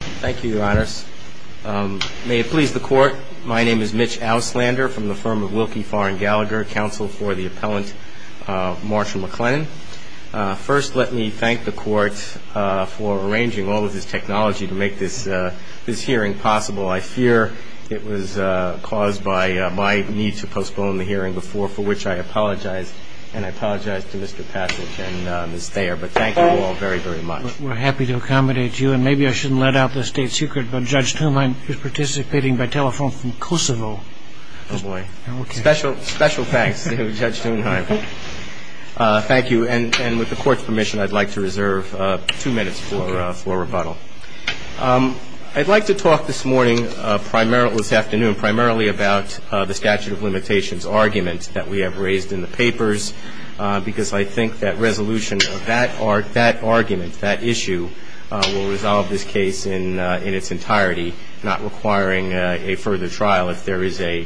Thank you, Your Honors. May it please the Court, my name is Mitch Auslander from the firm of Wilkie Farr and Gallagher, counsel for the appellant Marshall McLennan. First let me thank the Court for arranging all of this technology to make this hearing possible. I fear it was caused by my need to postpone the hearing before, for which I apologize and I apologize to Mr. Passage and Ms. Thayer, but thank you all very, very much. We're happy to accommodate you, and maybe I shouldn't let out the state secret, but Judge Thunheim is participating by telephone from Kosovo. Oh, boy. Special thanks to Judge Thunheim. Thank you, and with the Court's permission, I'd like to reserve two minutes for rebuttal. I'd like to talk this afternoon primarily about the statute of limitations argument that we have raised in the papers, because I think that resolution of that argument, that issue, will resolve this case in its entirety, not requiring a further trial if there is a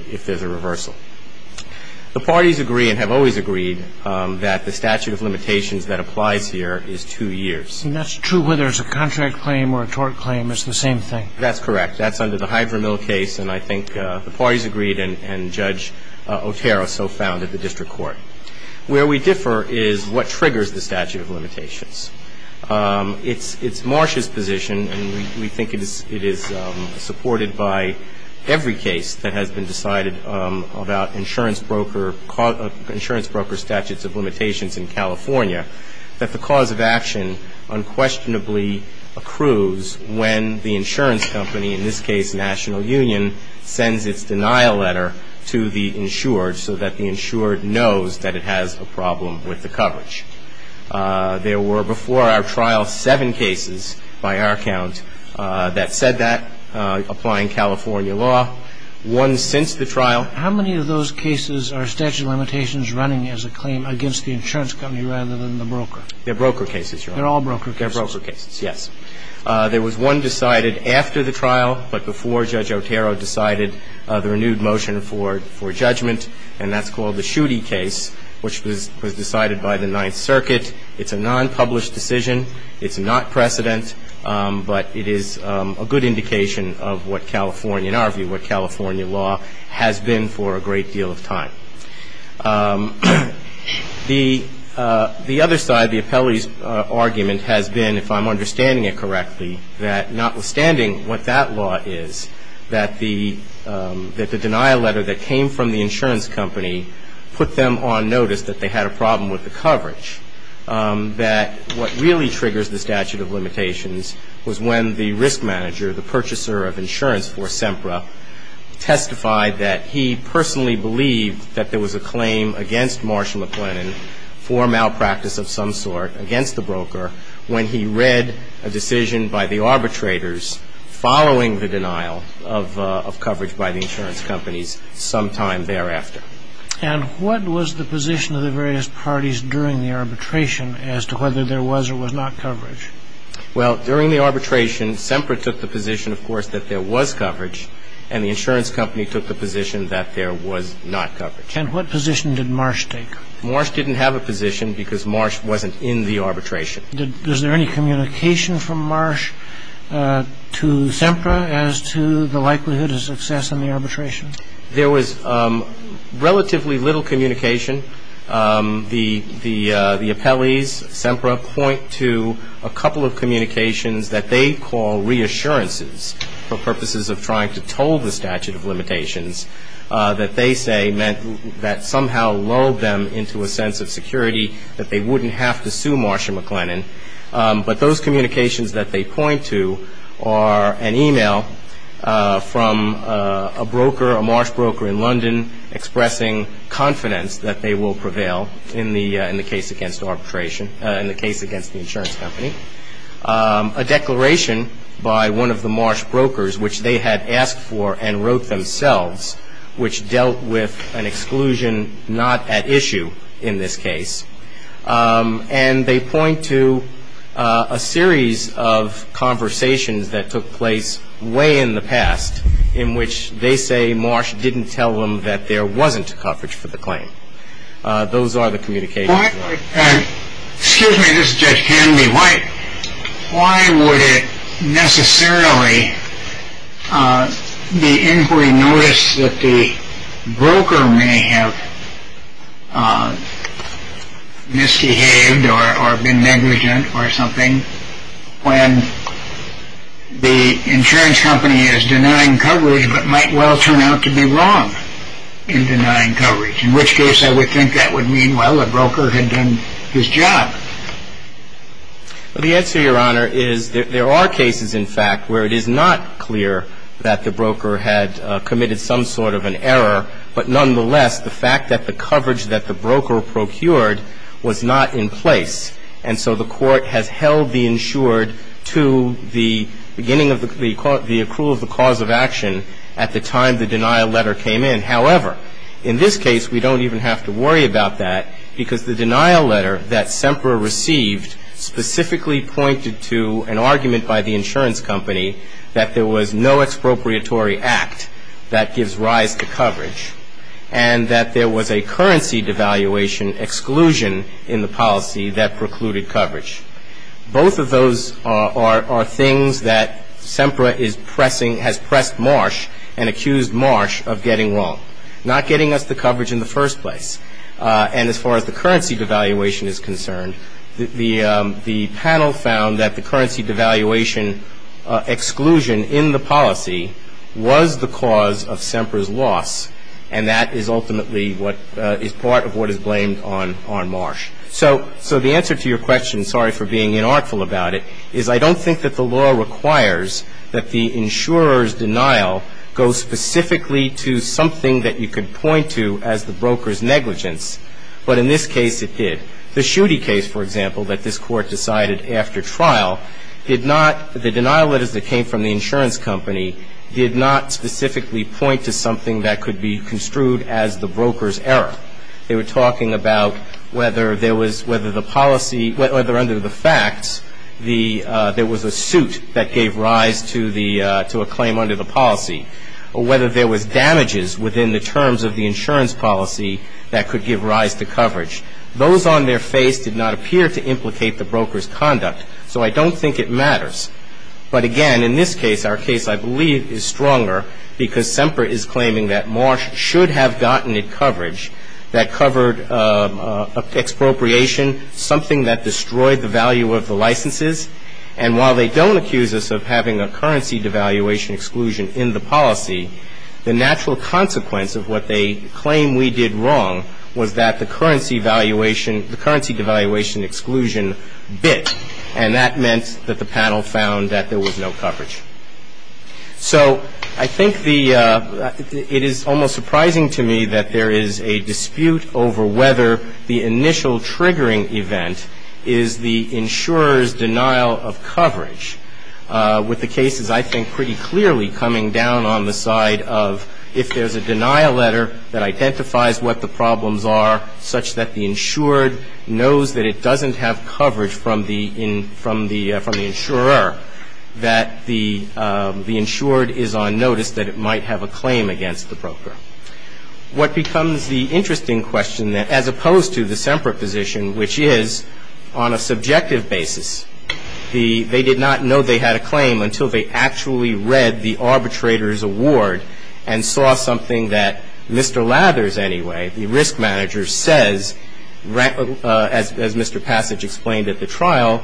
reversal. The parties agree and have always agreed that the statute of limitations that applies here is two years. And that's true whether it's a contract claim or a tort claim, it's the same thing. That's correct. That's under the Hyde v. Mill case, and I think the parties agreed, and Judge Otero so found at the district court. Where we differ is what triggers the It's Marsh's position, and we think it is supported by every case that has been decided about insurance broker statutes of limitations in California, that the cause of action unquestionably accrues when the insurance company, in this case National Union, sends its denial letter to the insured so that the insured knows that it has a problem with the coverage. There were, before our trial, seven cases by our count that said that, applying California law. One since the trial. How many of those cases are statute of limitations running as a claim against the insurance company rather than the broker? They're broker cases, Your Honor. They're all broker cases. They're broker cases, yes. There was one decided after the trial, but before Judge Otero decided the renewed motion for judgment, and that's called the Schuette case, which was decided by the Ninth Circuit. It's a non-published decision. It's not precedent, but it is a good indication of what California, in our view, what California law has been for a great deal of time. The other side, the appellee's argument has been, if I'm understanding it correctly, that notwithstanding what that law is, that the denial letter that came from the insurance company put them on notice that they had a problem with the coverage, that what really triggers the statute of limitations was when the risk manager, the purchaser of insurance for SEMPRA, testified that he personally believed that there was a claim against Marshall McLennan for malpractice of some sort against the broker when he read a decision by the arbitrators following the denial of coverage by the insurance companies sometime thereafter. And what was the position of the various parties during the arbitration as to whether there was or was not coverage? Well, during the arbitration, SEMPRA took the position, of course, that there was coverage, and the insurance company took the position that there was not coverage. And what position did Marsh take? Marsh didn't have a position because Marsh wasn't in the arbitration. Was there any communication from Marsh to SEMPRA as to the likelihood of success in the arbitration? There was relatively little communication. The appellees, SEMPRA, point to a couple of communications that they call reassurances for purposes of trying to toll the statute of limitations that they say meant that somehow lulled them into a sense of security that they wouldn't have to sue Marshall McLennan. But those communications that they point to are an email from a broker, a Marsh broker in London expressing confidence that they will prevail in the case against arbitration, in the case against the insurance company, a declaration by one of the Marsh brokers which they had asked for and wrote themselves, which dealt with an exclusion not at issue in this case. And they point to a series of conversations that took place way in the past in which they say Marsh didn't tell them that there wasn't coverage for the claim. Those are the communications. Why, excuse me, this is Judge Kennedy, why would it necessarily be inquiry notice that the broker may have misbehaved or been negligent or something when the insurance company is denying coverage but might well turn out to be wrong in denying coverage, in which case I would think that would mean, well, the broker had done his job. Well, the answer, Your Honor, is there are cases, in fact, where it is not clear that the broker had committed some sort of an error, but nonetheless, the fact that the coverage that the broker procured was not in place. And so the court has held the insured to the beginning of the accrual of the cause of action at the time the denial letter came in. However, in this case, we don't even have to worry about that because the denial letter that Semper received specifically pointed to an argument by the insurance company that there was no expropriatory act that gives rise to coverage and that there was a currency devaluation exclusion in the policy that precluded coverage. Both of those are things that Semper is pressing, has pressed Marsh and accused Marsh of getting wrong, not getting us the coverage in the first place. And as far as the currency devaluation is concerned, the panel found that the currency devaluation exclusion in the policy was the cause of Semper's loss. And that is ultimately what is part of what is blamed on Marsh. So the answer to your question, sorry for being inartful about it, is I don't think that the law requires that the insurer's denial goes specifically to something that you could point to as the broker's negligence. But in this case, it did. The Schuette case, for example, that this Court decided after trial did not, the denial letters that came from the insurance company did not specifically point to something that could be construed as the broker's error. They were talking about whether there was, whether the policy, whether under the facts there was a suit that gave rise to a claim under the policy, or whether there was damages within the terms of the insurance policy that could give rise to coverage. Those on their face did not appear to implicate the broker's conduct. So I don't think it matters. But again, in this case, our case I believe is stronger because Semper is claiming that Marsh should have gotten a coverage that covered expropriation, something that destroyed the value of the licenses. And while they don't accuse us of having a currency devaluation exclusion in the policy, the natural consequence of what they claim we did wrong was that the currency valuation, the currency devaluation exclusion bit, and that meant that the panel found that there was no coverage. So I think the, it is almost surprising to me that there is a dispute over whether the initial triggering event is the insurer's denial of coverage, with the cases I think pretty clearly coming down on the side of if there's a denial letter that the insured knows that it doesn't have coverage from the insurer, that the insured is on notice that it might have a claim against the broker. What becomes the interesting question, as opposed to the Semper position, which is on a subjective basis, they did not know they had a claim until they actually read the arbitrator's award and saw something that Mr. Lathers anyway, the risk manager, says, as Mr. Passage explained at the trial,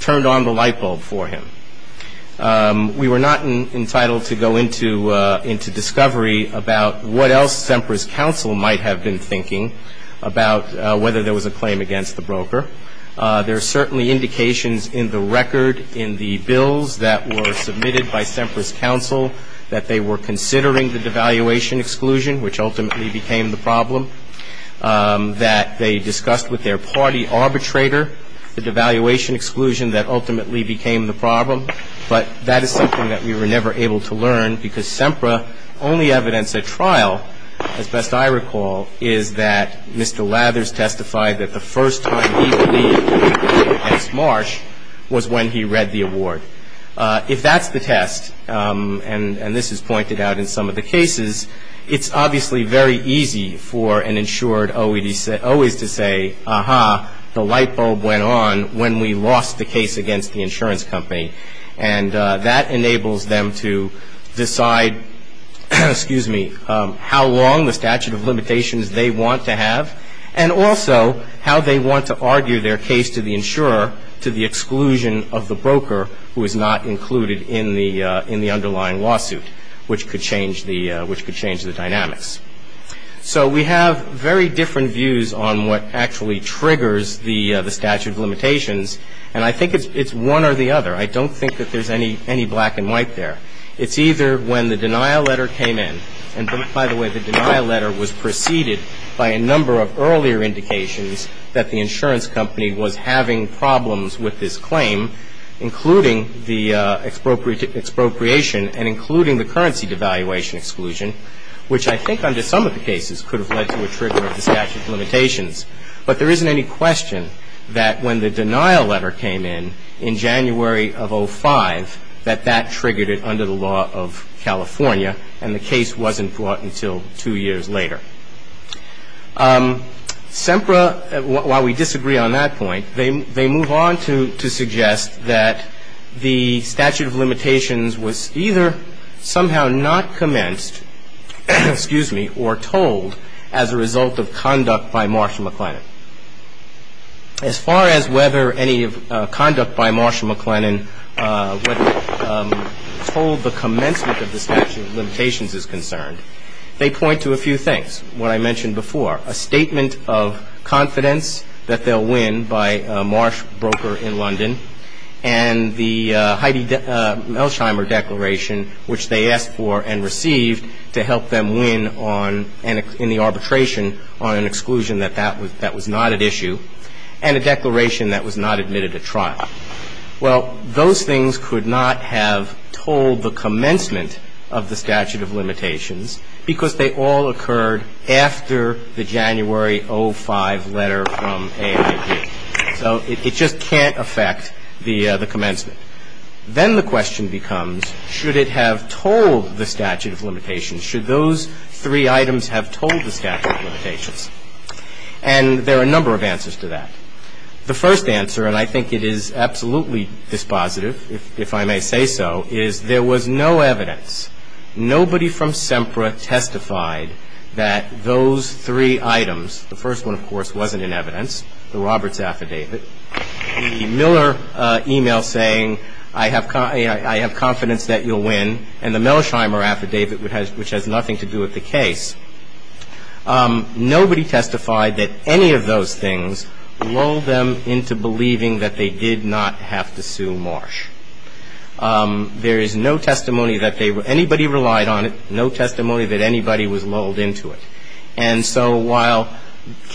turned on the lightbulb for him. We were not entitled to go into discovery about what else Semper's counsel might have been thinking about whether there was a claim against the broker. There are certainly indications in the record, in the bills that were submitted by Semper's counsel, that they were considering the devaluation exclusion, which ultimately became the problem. That they discussed with their party arbitrator the devaluation exclusion that ultimately became the problem. But that is something that we were never able to learn, because Semper only evidenced at trial, as best I recall, is that Mr. Lathers testified that the first time he pleaded against Marsh was when he read the award. If that's the test, and this is pointed out in some of the cases, it's obviously very easy for an insured OED, always to say, aha, the lightbulb went on when we lost the case against the insurance company. And that enables them to decide, excuse me, how long the statute of limitations they want to have, and also how they want to argue their case to the insurer, to the exclusion of the broker who is not included in the underlying lawsuit, which could change the dynamics. So we have very different views on what actually triggers the statute of limitations, and I think it's one or the other. I don't think that there's any black and white there. It's either when the denial letter came in, and by the way, the denial letter was preceded by a number of earlier indications that the insurance company was having problems with this claim, including the expropriation and including the currency devaluation exclusion, which I think under some of the cases could have led to a trigger of the statute of limitations, but there isn't any question that when the denial letter came in, in January of 05, that that triggered it under the law of California, and the case wasn't brought until two years later. SEMPRA, while we disagree on that point, they move on to suggest that the statute of limitations was either somehow not commenced, excuse me, or told as a result of conduct by Marshall McLennan. As far as whether any conduct by Marshall McLennan, whether told the commencement of the statute of limitations is concerned, they point to a few things. What I mentioned before, a statement of confidence that they'll win by a Marsh broker in London, and the Heidi Melsheimer declaration, which they asked for and received to help them win on, in the arbitration, on an exclusion that that was not at issue, and a declaration that was not admitted to trial. Well, those things could not have told the commencement of the statute of limitations because they all occurred after the January 05 letter from AIB. So it just can't affect the commencement. Then the question becomes, should it have told the statute of limitations? Should those three items have told the statute of limitations? And there are a number of answers to that. The first answer, and I think it is absolutely dispositive, if I may say so, is there was no evidence. Nobody from SEMPRA testified that those three items, the first one, of course, wasn't in evidence. The Roberts affidavit, the Miller email saying, I have confidence that you'll win, and the Melsheimer affidavit, which has nothing to do with the case. Nobody testified that any of those things lulled them into believing that they did not have to sue Marsh. There is no testimony that anybody relied on it, no testimony that anybody was lulled into it. And so while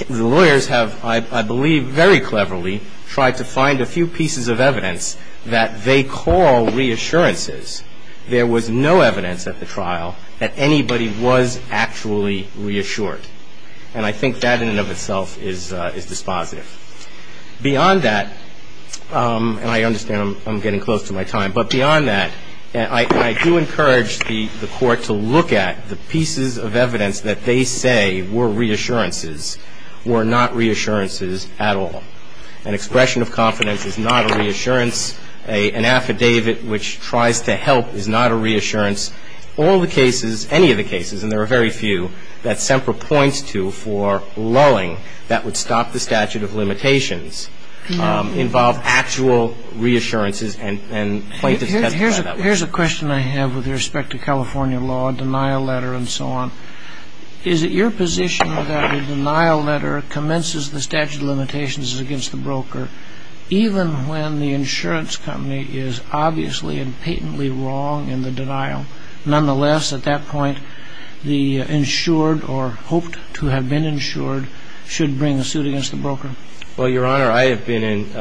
the lawyers have, I believe, very cleverly tried to find a few pieces of evidence that they call reassurances, there was no evidence at the trial that anybody was actually reassured. And I think that in and of itself is dispositive. Beyond that, and I understand I'm getting close to my time, but beyond that, I do encourage the Court to look at the pieces of evidence that they say were reassurances, were not reassurances at all. An expression of confidence is not a reassurance. An affidavit which tries to help is not a reassurance. All the cases, any of the cases, and there are very few, that SEMPRA points to for lulling that would stop the statute of limitations involve actual reassurances and plaintiffs testified that way. Here's a question I have with respect to California law, a denial letter and so on. Is it your position that a denial letter commences the statute of limitations against the broker even when the insurance company is obviously and patently wrong in the denial? Nonetheless, at that point, the insured or hoped to have been insured should bring a suit against the broker? Well, Your Honor, I have been in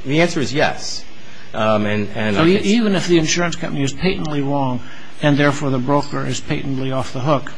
– the answer is yes. So even if the insurance company is patently wrong and therefore the broker is patently off the hook,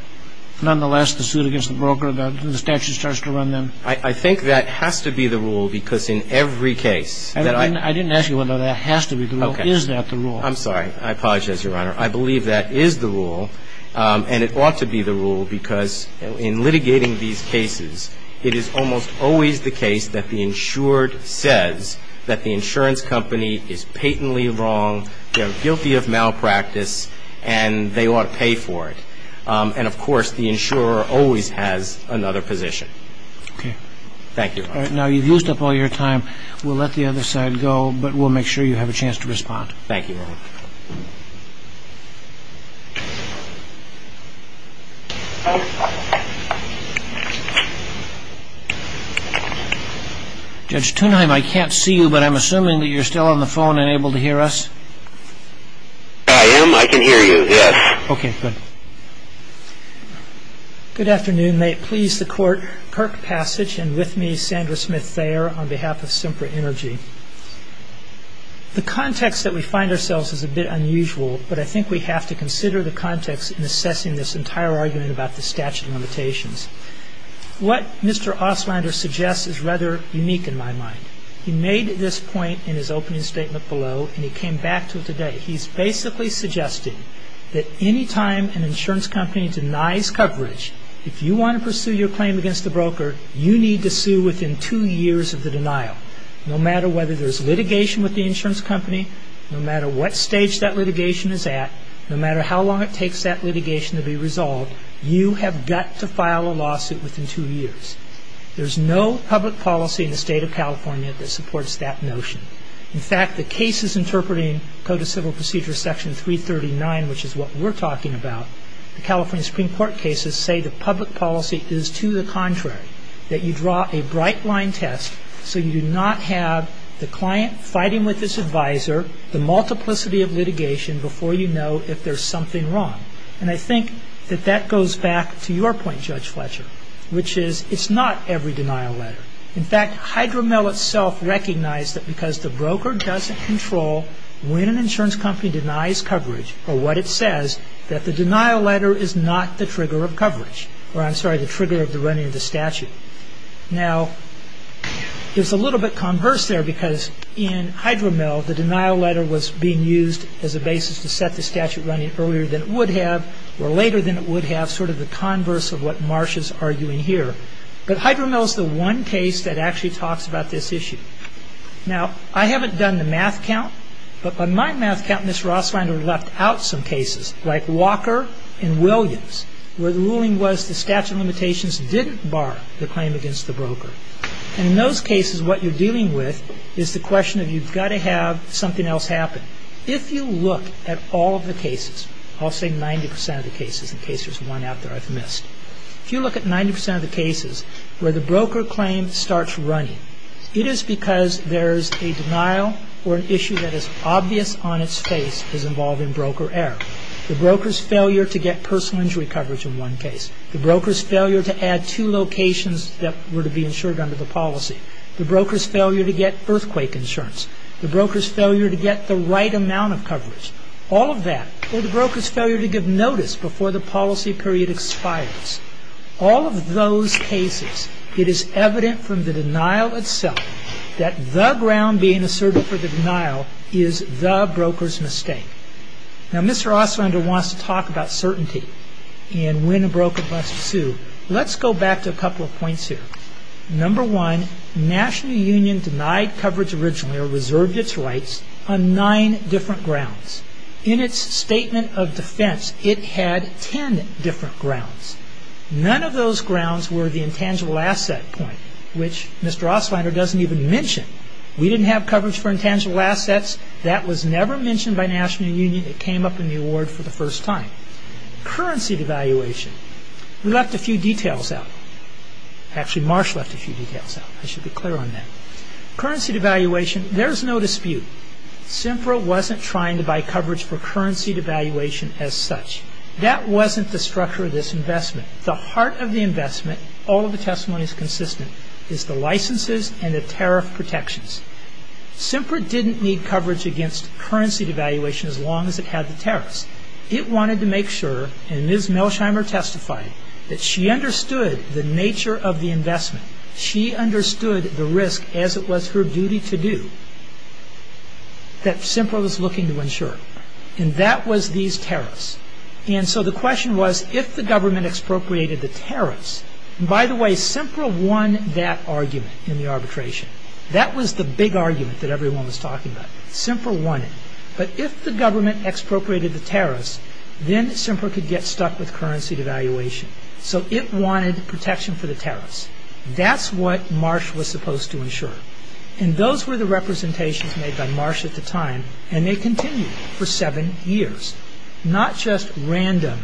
nonetheless, the suit against the broker, the statute starts to run them? I think that has to be the rule because in every case – I didn't ask you whether that has to be the rule. Is that the rule? I'm sorry. I apologize, Your Honor. I believe that is the rule and it ought to be the rule because in litigating these cases, it is almost always the case that the insured says that the insurance company is patently wrong, they're guilty of malpractice, and they ought to pay for it. And of course, the insurer always has another position. Okay. Thank you. All right. Now, you've used up all your time. We'll let the other side go, but we'll make sure you have a chance to respond. Thank you, Your Honor. Judge Tunheim, I can't see you, but I'm assuming that you're still on the phone and able to hear us? I am. I can hear you, yes. Okay, good. Good afternoon. May it please the Court, Kirk Passage and with me, Sandra Smith-Thayer, on behalf of Simpra Energy. The context that we find ourselves in is a bit unusual, but I think we have to consider the context in assessing this entire argument about the statute of limitations. What Mr. Ostlander suggests is rather unique in my mind. He made this point in his opening statement below and he came back to it today. He's basically suggesting that any time an insurance company denies coverage, if you want to pursue your claim against the broker, you need to sue within two years of the denial. No matter whether there's litigation with the insurance company, no matter what stage that litigation is at, no matter how long it takes that litigation to be resolved, you have got to file a lawsuit within two years. There's no public policy in the state of California that supports that notion. In fact, the cases interpreting Code of Civil Procedure Section 339, which is what we're talking about, the California Supreme Court cases say the public policy is to the contrary, that you draw a bright line test so you do not have the client fighting with his advisor, the multiplicity of litigation before you know if there's something wrong. And I think that that goes back to your point, Judge Fletcher, which is it's not every denial letter. In fact, HydroMell itself recognized that because the broker doesn't control when an insurance company denies coverage or what it says, that the denial letter is not the trigger of coverage. Or, I'm sorry, the trigger of the running of the statute. Now, it's a little bit converse there because in HydroMell, the denial letter was being used as a basis to set the statute running earlier than it would have or later than it would have, sort of the converse of what Marsh is arguing here. But HydroMell is the one case that actually talks about this issue. Now, I haven't done the math count, but on my math count, Ms. Roslinder left out some cases like Walker and Williams where the ruling was the statute of limitations didn't bar the claim against the broker. And in those cases, what you're dealing with is the question of you've got to have something else happen. If you look at all of the cases, I'll say 90 percent of the cases in case there's one out there I've missed. If you look at 90 percent of the cases where the broker claim starts running, it is because there's a denial or an issue that is obvious on its face as involved in broker error. The broker's failure to get personal injury coverage in one case. The broker's failure to add two locations that were to be insured under the policy. The broker's failure to get earthquake insurance. The broker's failure to get the right amount of coverage. All of that, or the broker's failure to give notice before the policy period expires. All of those cases, it is evident from the denial itself that the ground being Now, Mr. Oslinder wants to talk about certainty and when a broker must sue. Let's go back to a couple of points here. Number one, National Union denied coverage originally or reserved its rights on nine different grounds. In its statement of defense, it had ten different grounds. None of those grounds were the intangible asset point, which Mr. Oslinder doesn't even mention. We didn't have coverage for intangible assets. That was never mentioned by National Union. It came up in the award for the first time. Currency devaluation. We left a few details out. Actually, Marsh left a few details out. I should be clear on that. Currency devaluation, there's no dispute. SINFRA wasn't trying to buy coverage for currency devaluation as such. That wasn't the structure of this investment. The heart of the investment, all of the testimony is consistent, is the licenses and the tariff protections. SINFRA didn't need coverage against currency devaluation as long as it had the tariffs. It wanted to make sure, and Ms. Melsheimer testified, that she understood the nature of the investment. She understood the risk as it was her duty to do that SINFRA was looking to ensure. That was these tariffs. The question was if the government expropriated the tariffs. By the way, SINFRA won that argument in the arbitration. That was the big argument that everyone was talking about. SINFRA won it. But if the government expropriated the tariffs, then SINFRA could get stuck with currency devaluation. So it wanted protection for the tariffs. That's what Marsh was supposed to ensure. Those were the representations made by Marsh at the time, and they continued for seven years. Not just random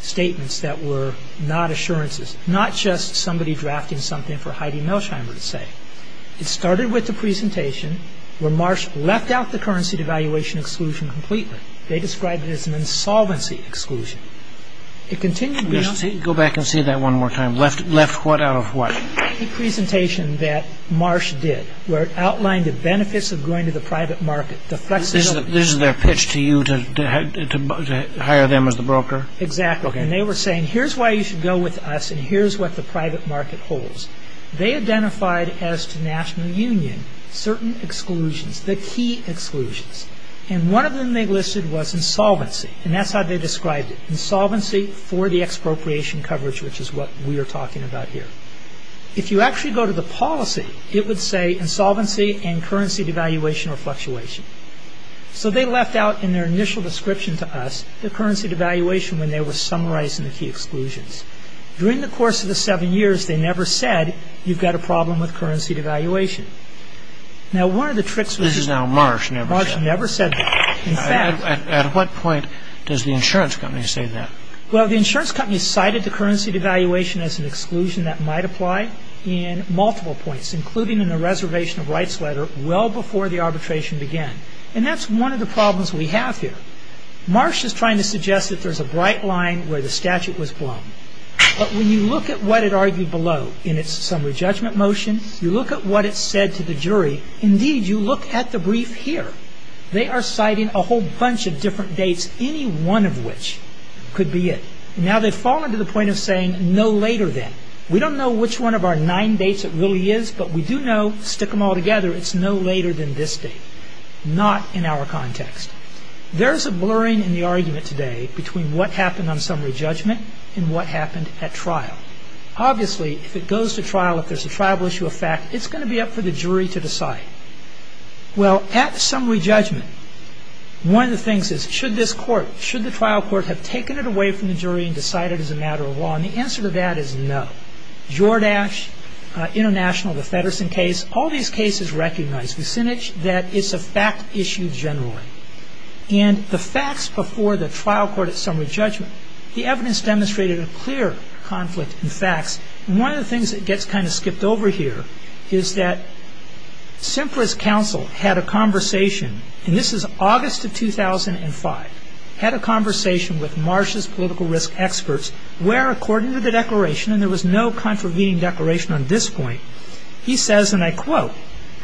statements that were not assurances. Not just somebody drafting something for Heidi Melsheimer to say. It started with the presentation where Marsh left out the currency devaluation exclusion completely. They described it as an insolvency exclusion. It continued... Can you go back and say that one more time? Left what out of what? The presentation that Marsh did, where it outlined the benefits of going to the private market, the flexibility... This is their pitch to you to hire them as the broker? Exactly. And they were saying, here's why you should go with us, and here's what the private market holds. They identified as to national union certain exclusions, the key exclusions. And one of them they listed was insolvency, and that's how they described it. Insolvency for the expropriation coverage, which is what we are talking about here. If you actually go to the policy, it would say insolvency and currency devaluation or fluctuation. So they left out in their initial description to us the currency devaluation when they were summarizing the key exclusions. During the course of the seven years, they never said, you've got a problem with currency devaluation. Now, one of the tricks... This is now Marsh never said. Marsh never said that. In fact... At what point does the insurance company say that? Well, the insurance company cited the currency devaluation as an exclusion that might apply in multiple points, including in the reservation of rights letter well before the arbitration began. And that's one of the problems we have here. Marsh is trying to suggest that there's a bright line where the statute was But when you look at what it argued below in its summary judgment motion, you look at what it said to the jury. Indeed, you look at the brief here. They are citing a whole bunch of different dates, any one of which could be it. Now, they've fallen to the point of saying no later than. We don't know which one of our nine dates it really is, but we do know, stick them all together, it's no later than this date. Not in our context. There's a blurring in the argument today between what happened on summary judgment and what happened at trial. Obviously, if it goes to trial, if there's a tribal issue of fact, it's going to be up for the jury to decide. Well, at the summary judgment, one of the things is, should this court, should the trial court have taken it away from the jury and decided as a matter of law? And the answer to that is no. Jordache, International, the Fedderson case, all these cases recognize, Vucinich, that it's a fact issue generally. And the facts before the trial court at summary judgment, the evidence demonstrated a clear conflict in facts. One of the things that gets kind of skipped over here is that Semper's counsel had a conversation, and this is August of 2005, had a conversation with Marsh's political risk experts, where according to the declaration, and there was no contravening declaration on this point, he says, and I quote,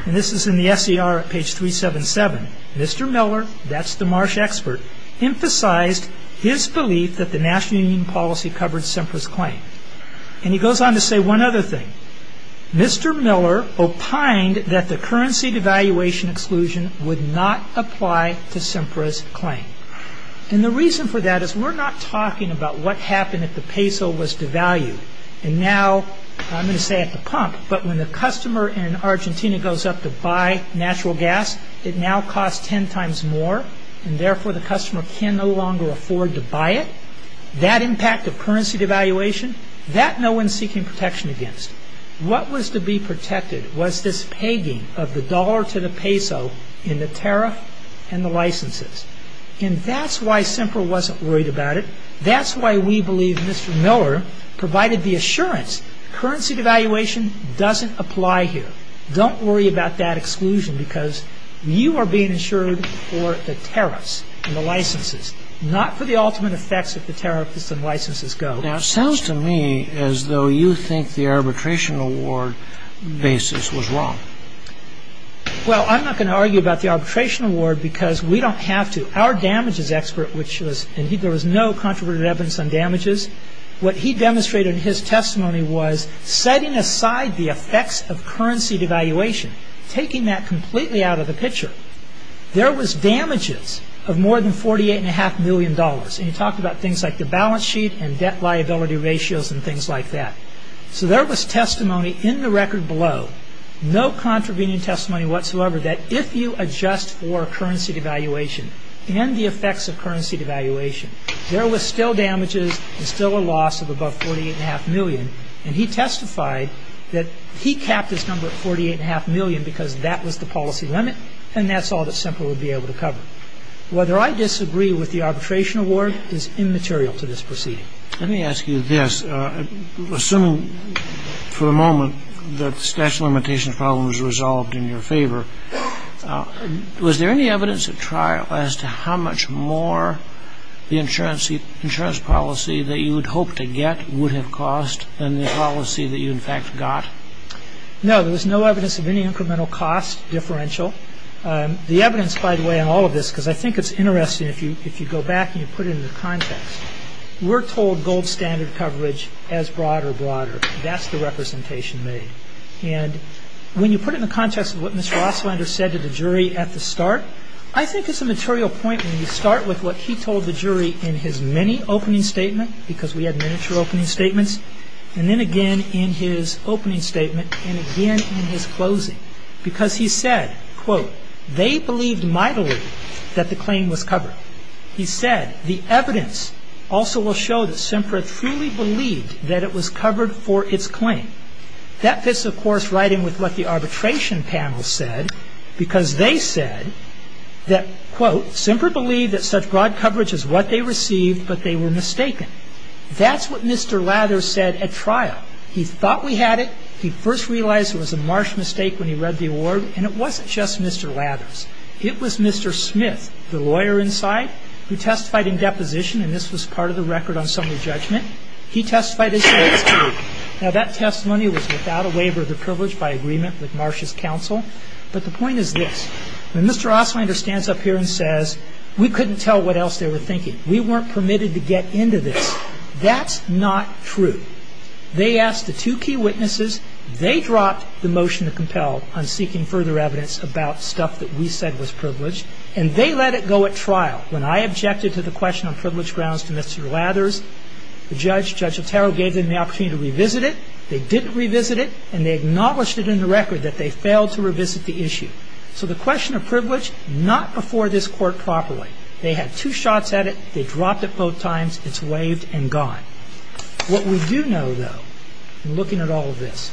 and this is in the SCR at page 377, Mr. Miller, that's the Marsh expert, emphasized his belief that the National Union policy covered Semper's claim. And he goes on to say one other thing. Mr. Miller opined that the currency devaluation exclusion would not apply to Semper's claim. And the reason for that is we're not talking about what happened if the peso was devalued. And now, I'm going to say at the pump, but when the customer in Argentina goes up to buy natural gas, it now costs 10 times more. And therefore, the customer can no longer afford to buy it. That impact of currency devaluation, that no one's seeking protection against. What was to be protected was this pegging of the dollar to the peso in the tariff and the licenses. And that's why Semper wasn't worried about it. That's why we believe Mr. Miller provided the assurance currency devaluation doesn't apply here. Don't worry about that exclusion. Because you are being insured for the tariffs and the licenses, not for the ultimate effects if the tariffs and licenses go. Now, it sounds to me as though you think the arbitration award basis was wrong. Well, I'm not going to argue about the arbitration award because we don't have to. Our damages expert, which was, and there was no controversial evidence on damages. What he demonstrated in his testimony was setting aside the effects of currency devaluation, taking that completely out of the picture. There was damages of more than 48 and a half million dollars. And he talked about things like the balance sheet and debt liability ratios and things like that. So there was testimony in the record below, no contravening testimony whatsoever, that if you adjust for currency devaluation and the effects of currency devaluation, there was still damages and still a loss of above 48 and a half million. And he testified that he capped his number at 48 and a half million because that was the policy limit. And that's all that Semple would be able to cover. Whether I disagree with the arbitration award is immaterial to this proceeding. Let me ask you this. Assuming for the moment that the statute of limitations problem was resolved in your favor, was there any evidence at trial as to how much more the insurance policy that you would hope to get would have cost than the policy that you, in fact, got? No, there was no evidence of any incremental cost differential. The evidence, by the way, on all of this, because I think it's interesting if you go back and you put it in the context, we're told gold standard coverage as broader, broader. That's the representation made. And when you put it in the context of what Mr. Ostlander said to the jury at the start, I think it's a material point when you start with what he told the jury in his many opening statement, because we had miniature opening statements. And then again in his opening statement and again in his closing, because he said, quote, they believed mightily that the claim was covered. He said the evidence also will show that Sempra truly believed that it was covered for its claim. That fits, of course, right in with what the arbitration panel said, because they said that, quote, Sempra believed that such broad coverage is what they received, but they were mistaken. That's what Mr. Lathers said at trial. He thought we had it. He first realized it was a marsh mistake when he read the award. And it wasn't just Mr. Lathers. It was Mr. Smith, the lawyer inside, who testified in deposition. And this was part of the record on summary judgment. He testified as well. Now, that testimony was without a waiver of the privilege by agreement with Marsh's counsel. But the point is this. When Mr. Osslinger stands up here and says, we couldn't tell what else they were thinking. We weren't permitted to get into this. That's not true. They asked the two key witnesses. They dropped the motion to compel on seeking further evidence about stuff that we said was privileged. And they let it go at trial. When I objected to the question on privilege grounds to Mr. Lathers, the judge, Judge Otero, gave them the opportunity to revisit it. They didn't revisit it. And they acknowledged it in the record that they failed to revisit the issue. So the question of privilege, not before this court properly. They had two shots at it. They dropped it both times. It's waived and gone. What we do know, though, in looking at all of this,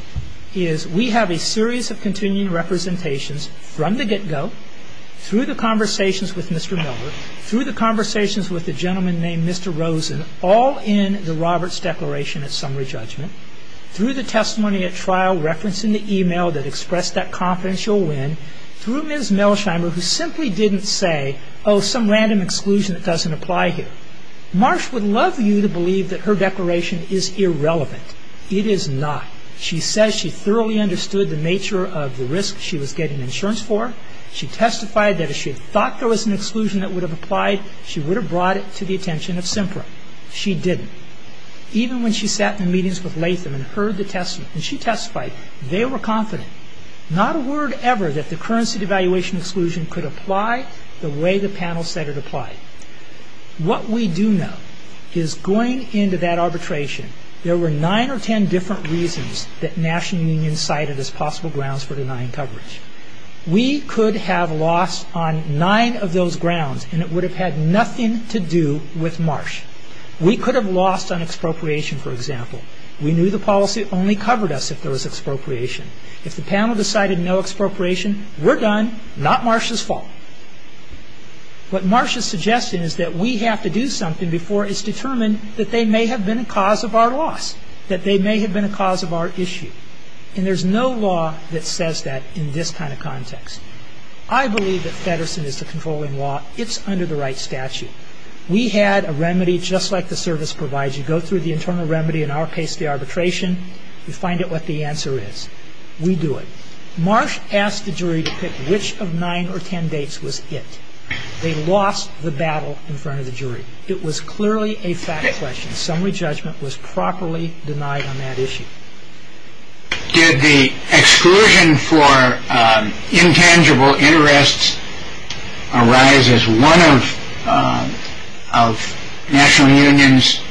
is we have a series of continuing representations from the get-go, through the conversations with Mr. Miller, through the conversations with the gentleman named Mr. Rosen, all in the Roberts' declaration at summary judgment, through the testimony at trial referencing the email that expressed that confidence you'll win, through Ms. Melsheimer, who simply didn't say, oh, some random exclusion that doesn't apply here. Marsh would love you to believe that her declaration is irrelevant. It is not. She says she thoroughly understood the nature of the risk she was getting insurance for. She testified that if she had thought there was an exclusion that would have applied, she would have brought it to the attention of SEMPRA. She didn't. Even when she sat in meetings with Latham and heard the testimony, and she testified, they were confident, not a word ever, that the currency devaluation exclusion could apply the way the panel said it applied. What we do know is going into that arbitration, there were nine or 10 different reasons that national unions cited as possible grounds for denying coverage. We could have lost on nine of those grounds and it would have had nothing to do with Marsh. We could have lost on expropriation, for example. We knew the policy only covered us if there was expropriation. If the panel decided no expropriation, we're done, not Marsh's fault. What Marsh is suggesting is that we have to do something before it's determined that they may have been a cause of our loss, that they may have been a cause of our issue. And there's no law that says that in this kind of context. I believe that Feddersen is the controlling law. It's under the right statute. We had a remedy just like the service provides. You go through the internal remedy, in our case the arbitration, you find out what the answer is. We do it. Marsh asked the jury to pick which of nine or 10 dates was it. They lost the battle in front of the jury. It was clearly a fact question. Summary judgment was properly denied on that issue. Did the exclusion for intangible interests arise as one of National Union's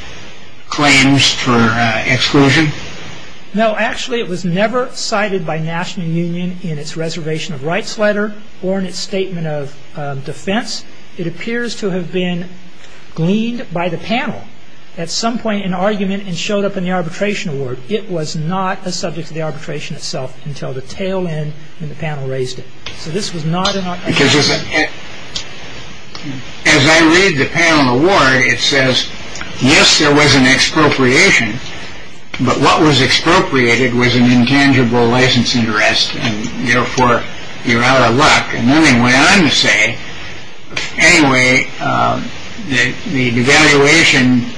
claims for exclusion? No, actually it was never cited by National Union in its reservation of rights letter or in its statement of defense. It appears to have been gleaned by the panel at some point in argument and showed up in the arbitration award. It was not a subject of the arbitration itself until the tail end when the panel raised it. So this was not an argument. Because as I read the panel award, it says, yes, there was an expropriation. But what was expropriated was an intangible license interest. And therefore, you're out of luck. And then they went on to say, anyway, the devaluation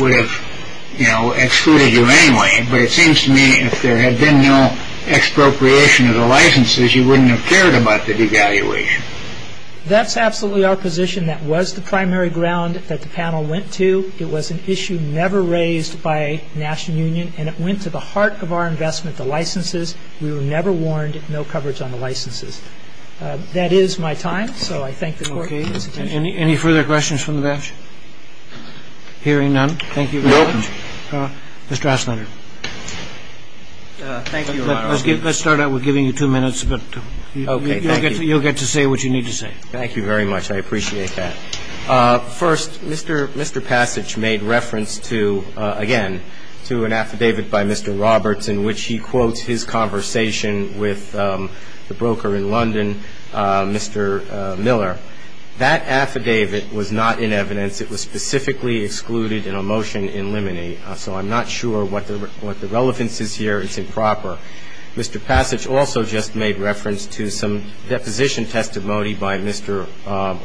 would have excluded you anyway. But it seems to me, if there had been no expropriation of the licenses, you wouldn't have cared about the devaluation. That's absolutely our position. That was the primary ground that the panel went to. It was an issue never raised by National Union. And it went to the heart of our investment, the licenses. We were never warned. No coverage on the licenses. That is my time. So I thank the court. Any further questions from the bench? Hearing none. Thank you. Mr. Aslander. Thank you, Your Honor. Let's start out with giving you two minutes. But you'll get to say what you need to say. Thank you very much. I appreciate that. First, Mr. Passage made reference to, again, to an affidavit by Mr. Roberts in which he quotes his conversation with the broker in London, Mr. Miller. That affidavit was not in evidence. It was specifically excluded in a motion in limine. So I'm not sure what the relevance is here. It's improper. Mr. Passage also just made reference to some deposition testimony by Mr.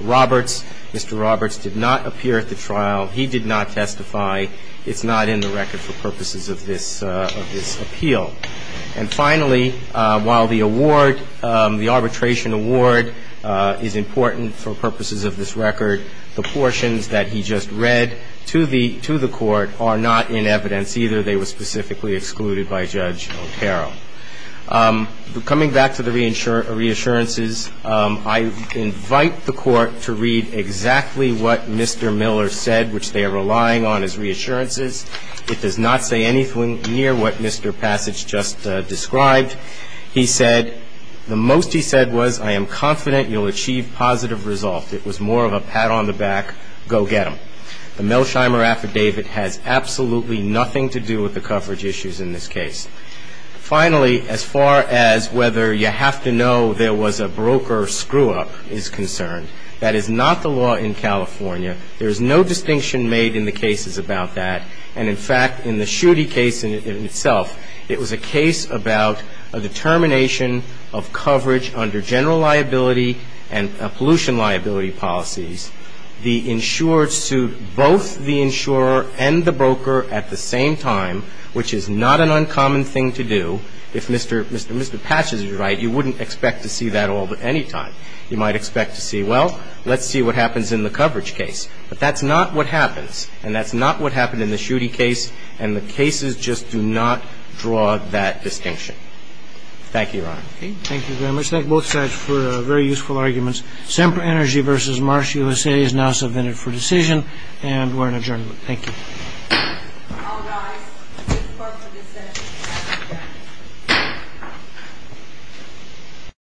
Roberts. Mr. Roberts did not appear at the trial. He did not testify. It's not in the record for purposes of this appeal. And finally, while the award, the arbitration award is important for purposes of this record, the portions that he just read to the Court are not in evidence either. They were specifically excluded by Judge Otero. Coming back to the reassurances, I invite the Court to read exactly what Mr. Miller said, which they are relying on as reassurances. It does not say anything near what Mr. Passage just described. He said the most he said was, I am confident you'll achieve positive results. It was more of a pat on the back, go get them. The Melsheimer affidavit has absolutely nothing to do with the coverage issues in this case. Finally, as far as whether you have to know there was a broker screw-up is concerned, that is not the law in California. There is no distinction made in the cases about that. And in fact, in the Schutte case in itself, it was a case about a determination of coverage under general liability and pollution liability policies. The insurer sued both the insurer and the broker at the same time, which is not an uncommon thing to do. If Mr. Patches is right, you wouldn't expect to see that all at any time. You might expect to see, well, let's see what happens in the coverage case. But that's not what happens, and that's not what happened in the Schutte case, Thank you, Your Honor. Thank you very much. Thank both sides for very useful arguments. Semper Energy versus Marsh USA is now submitted for decision, and we're in adjournment. Thank you.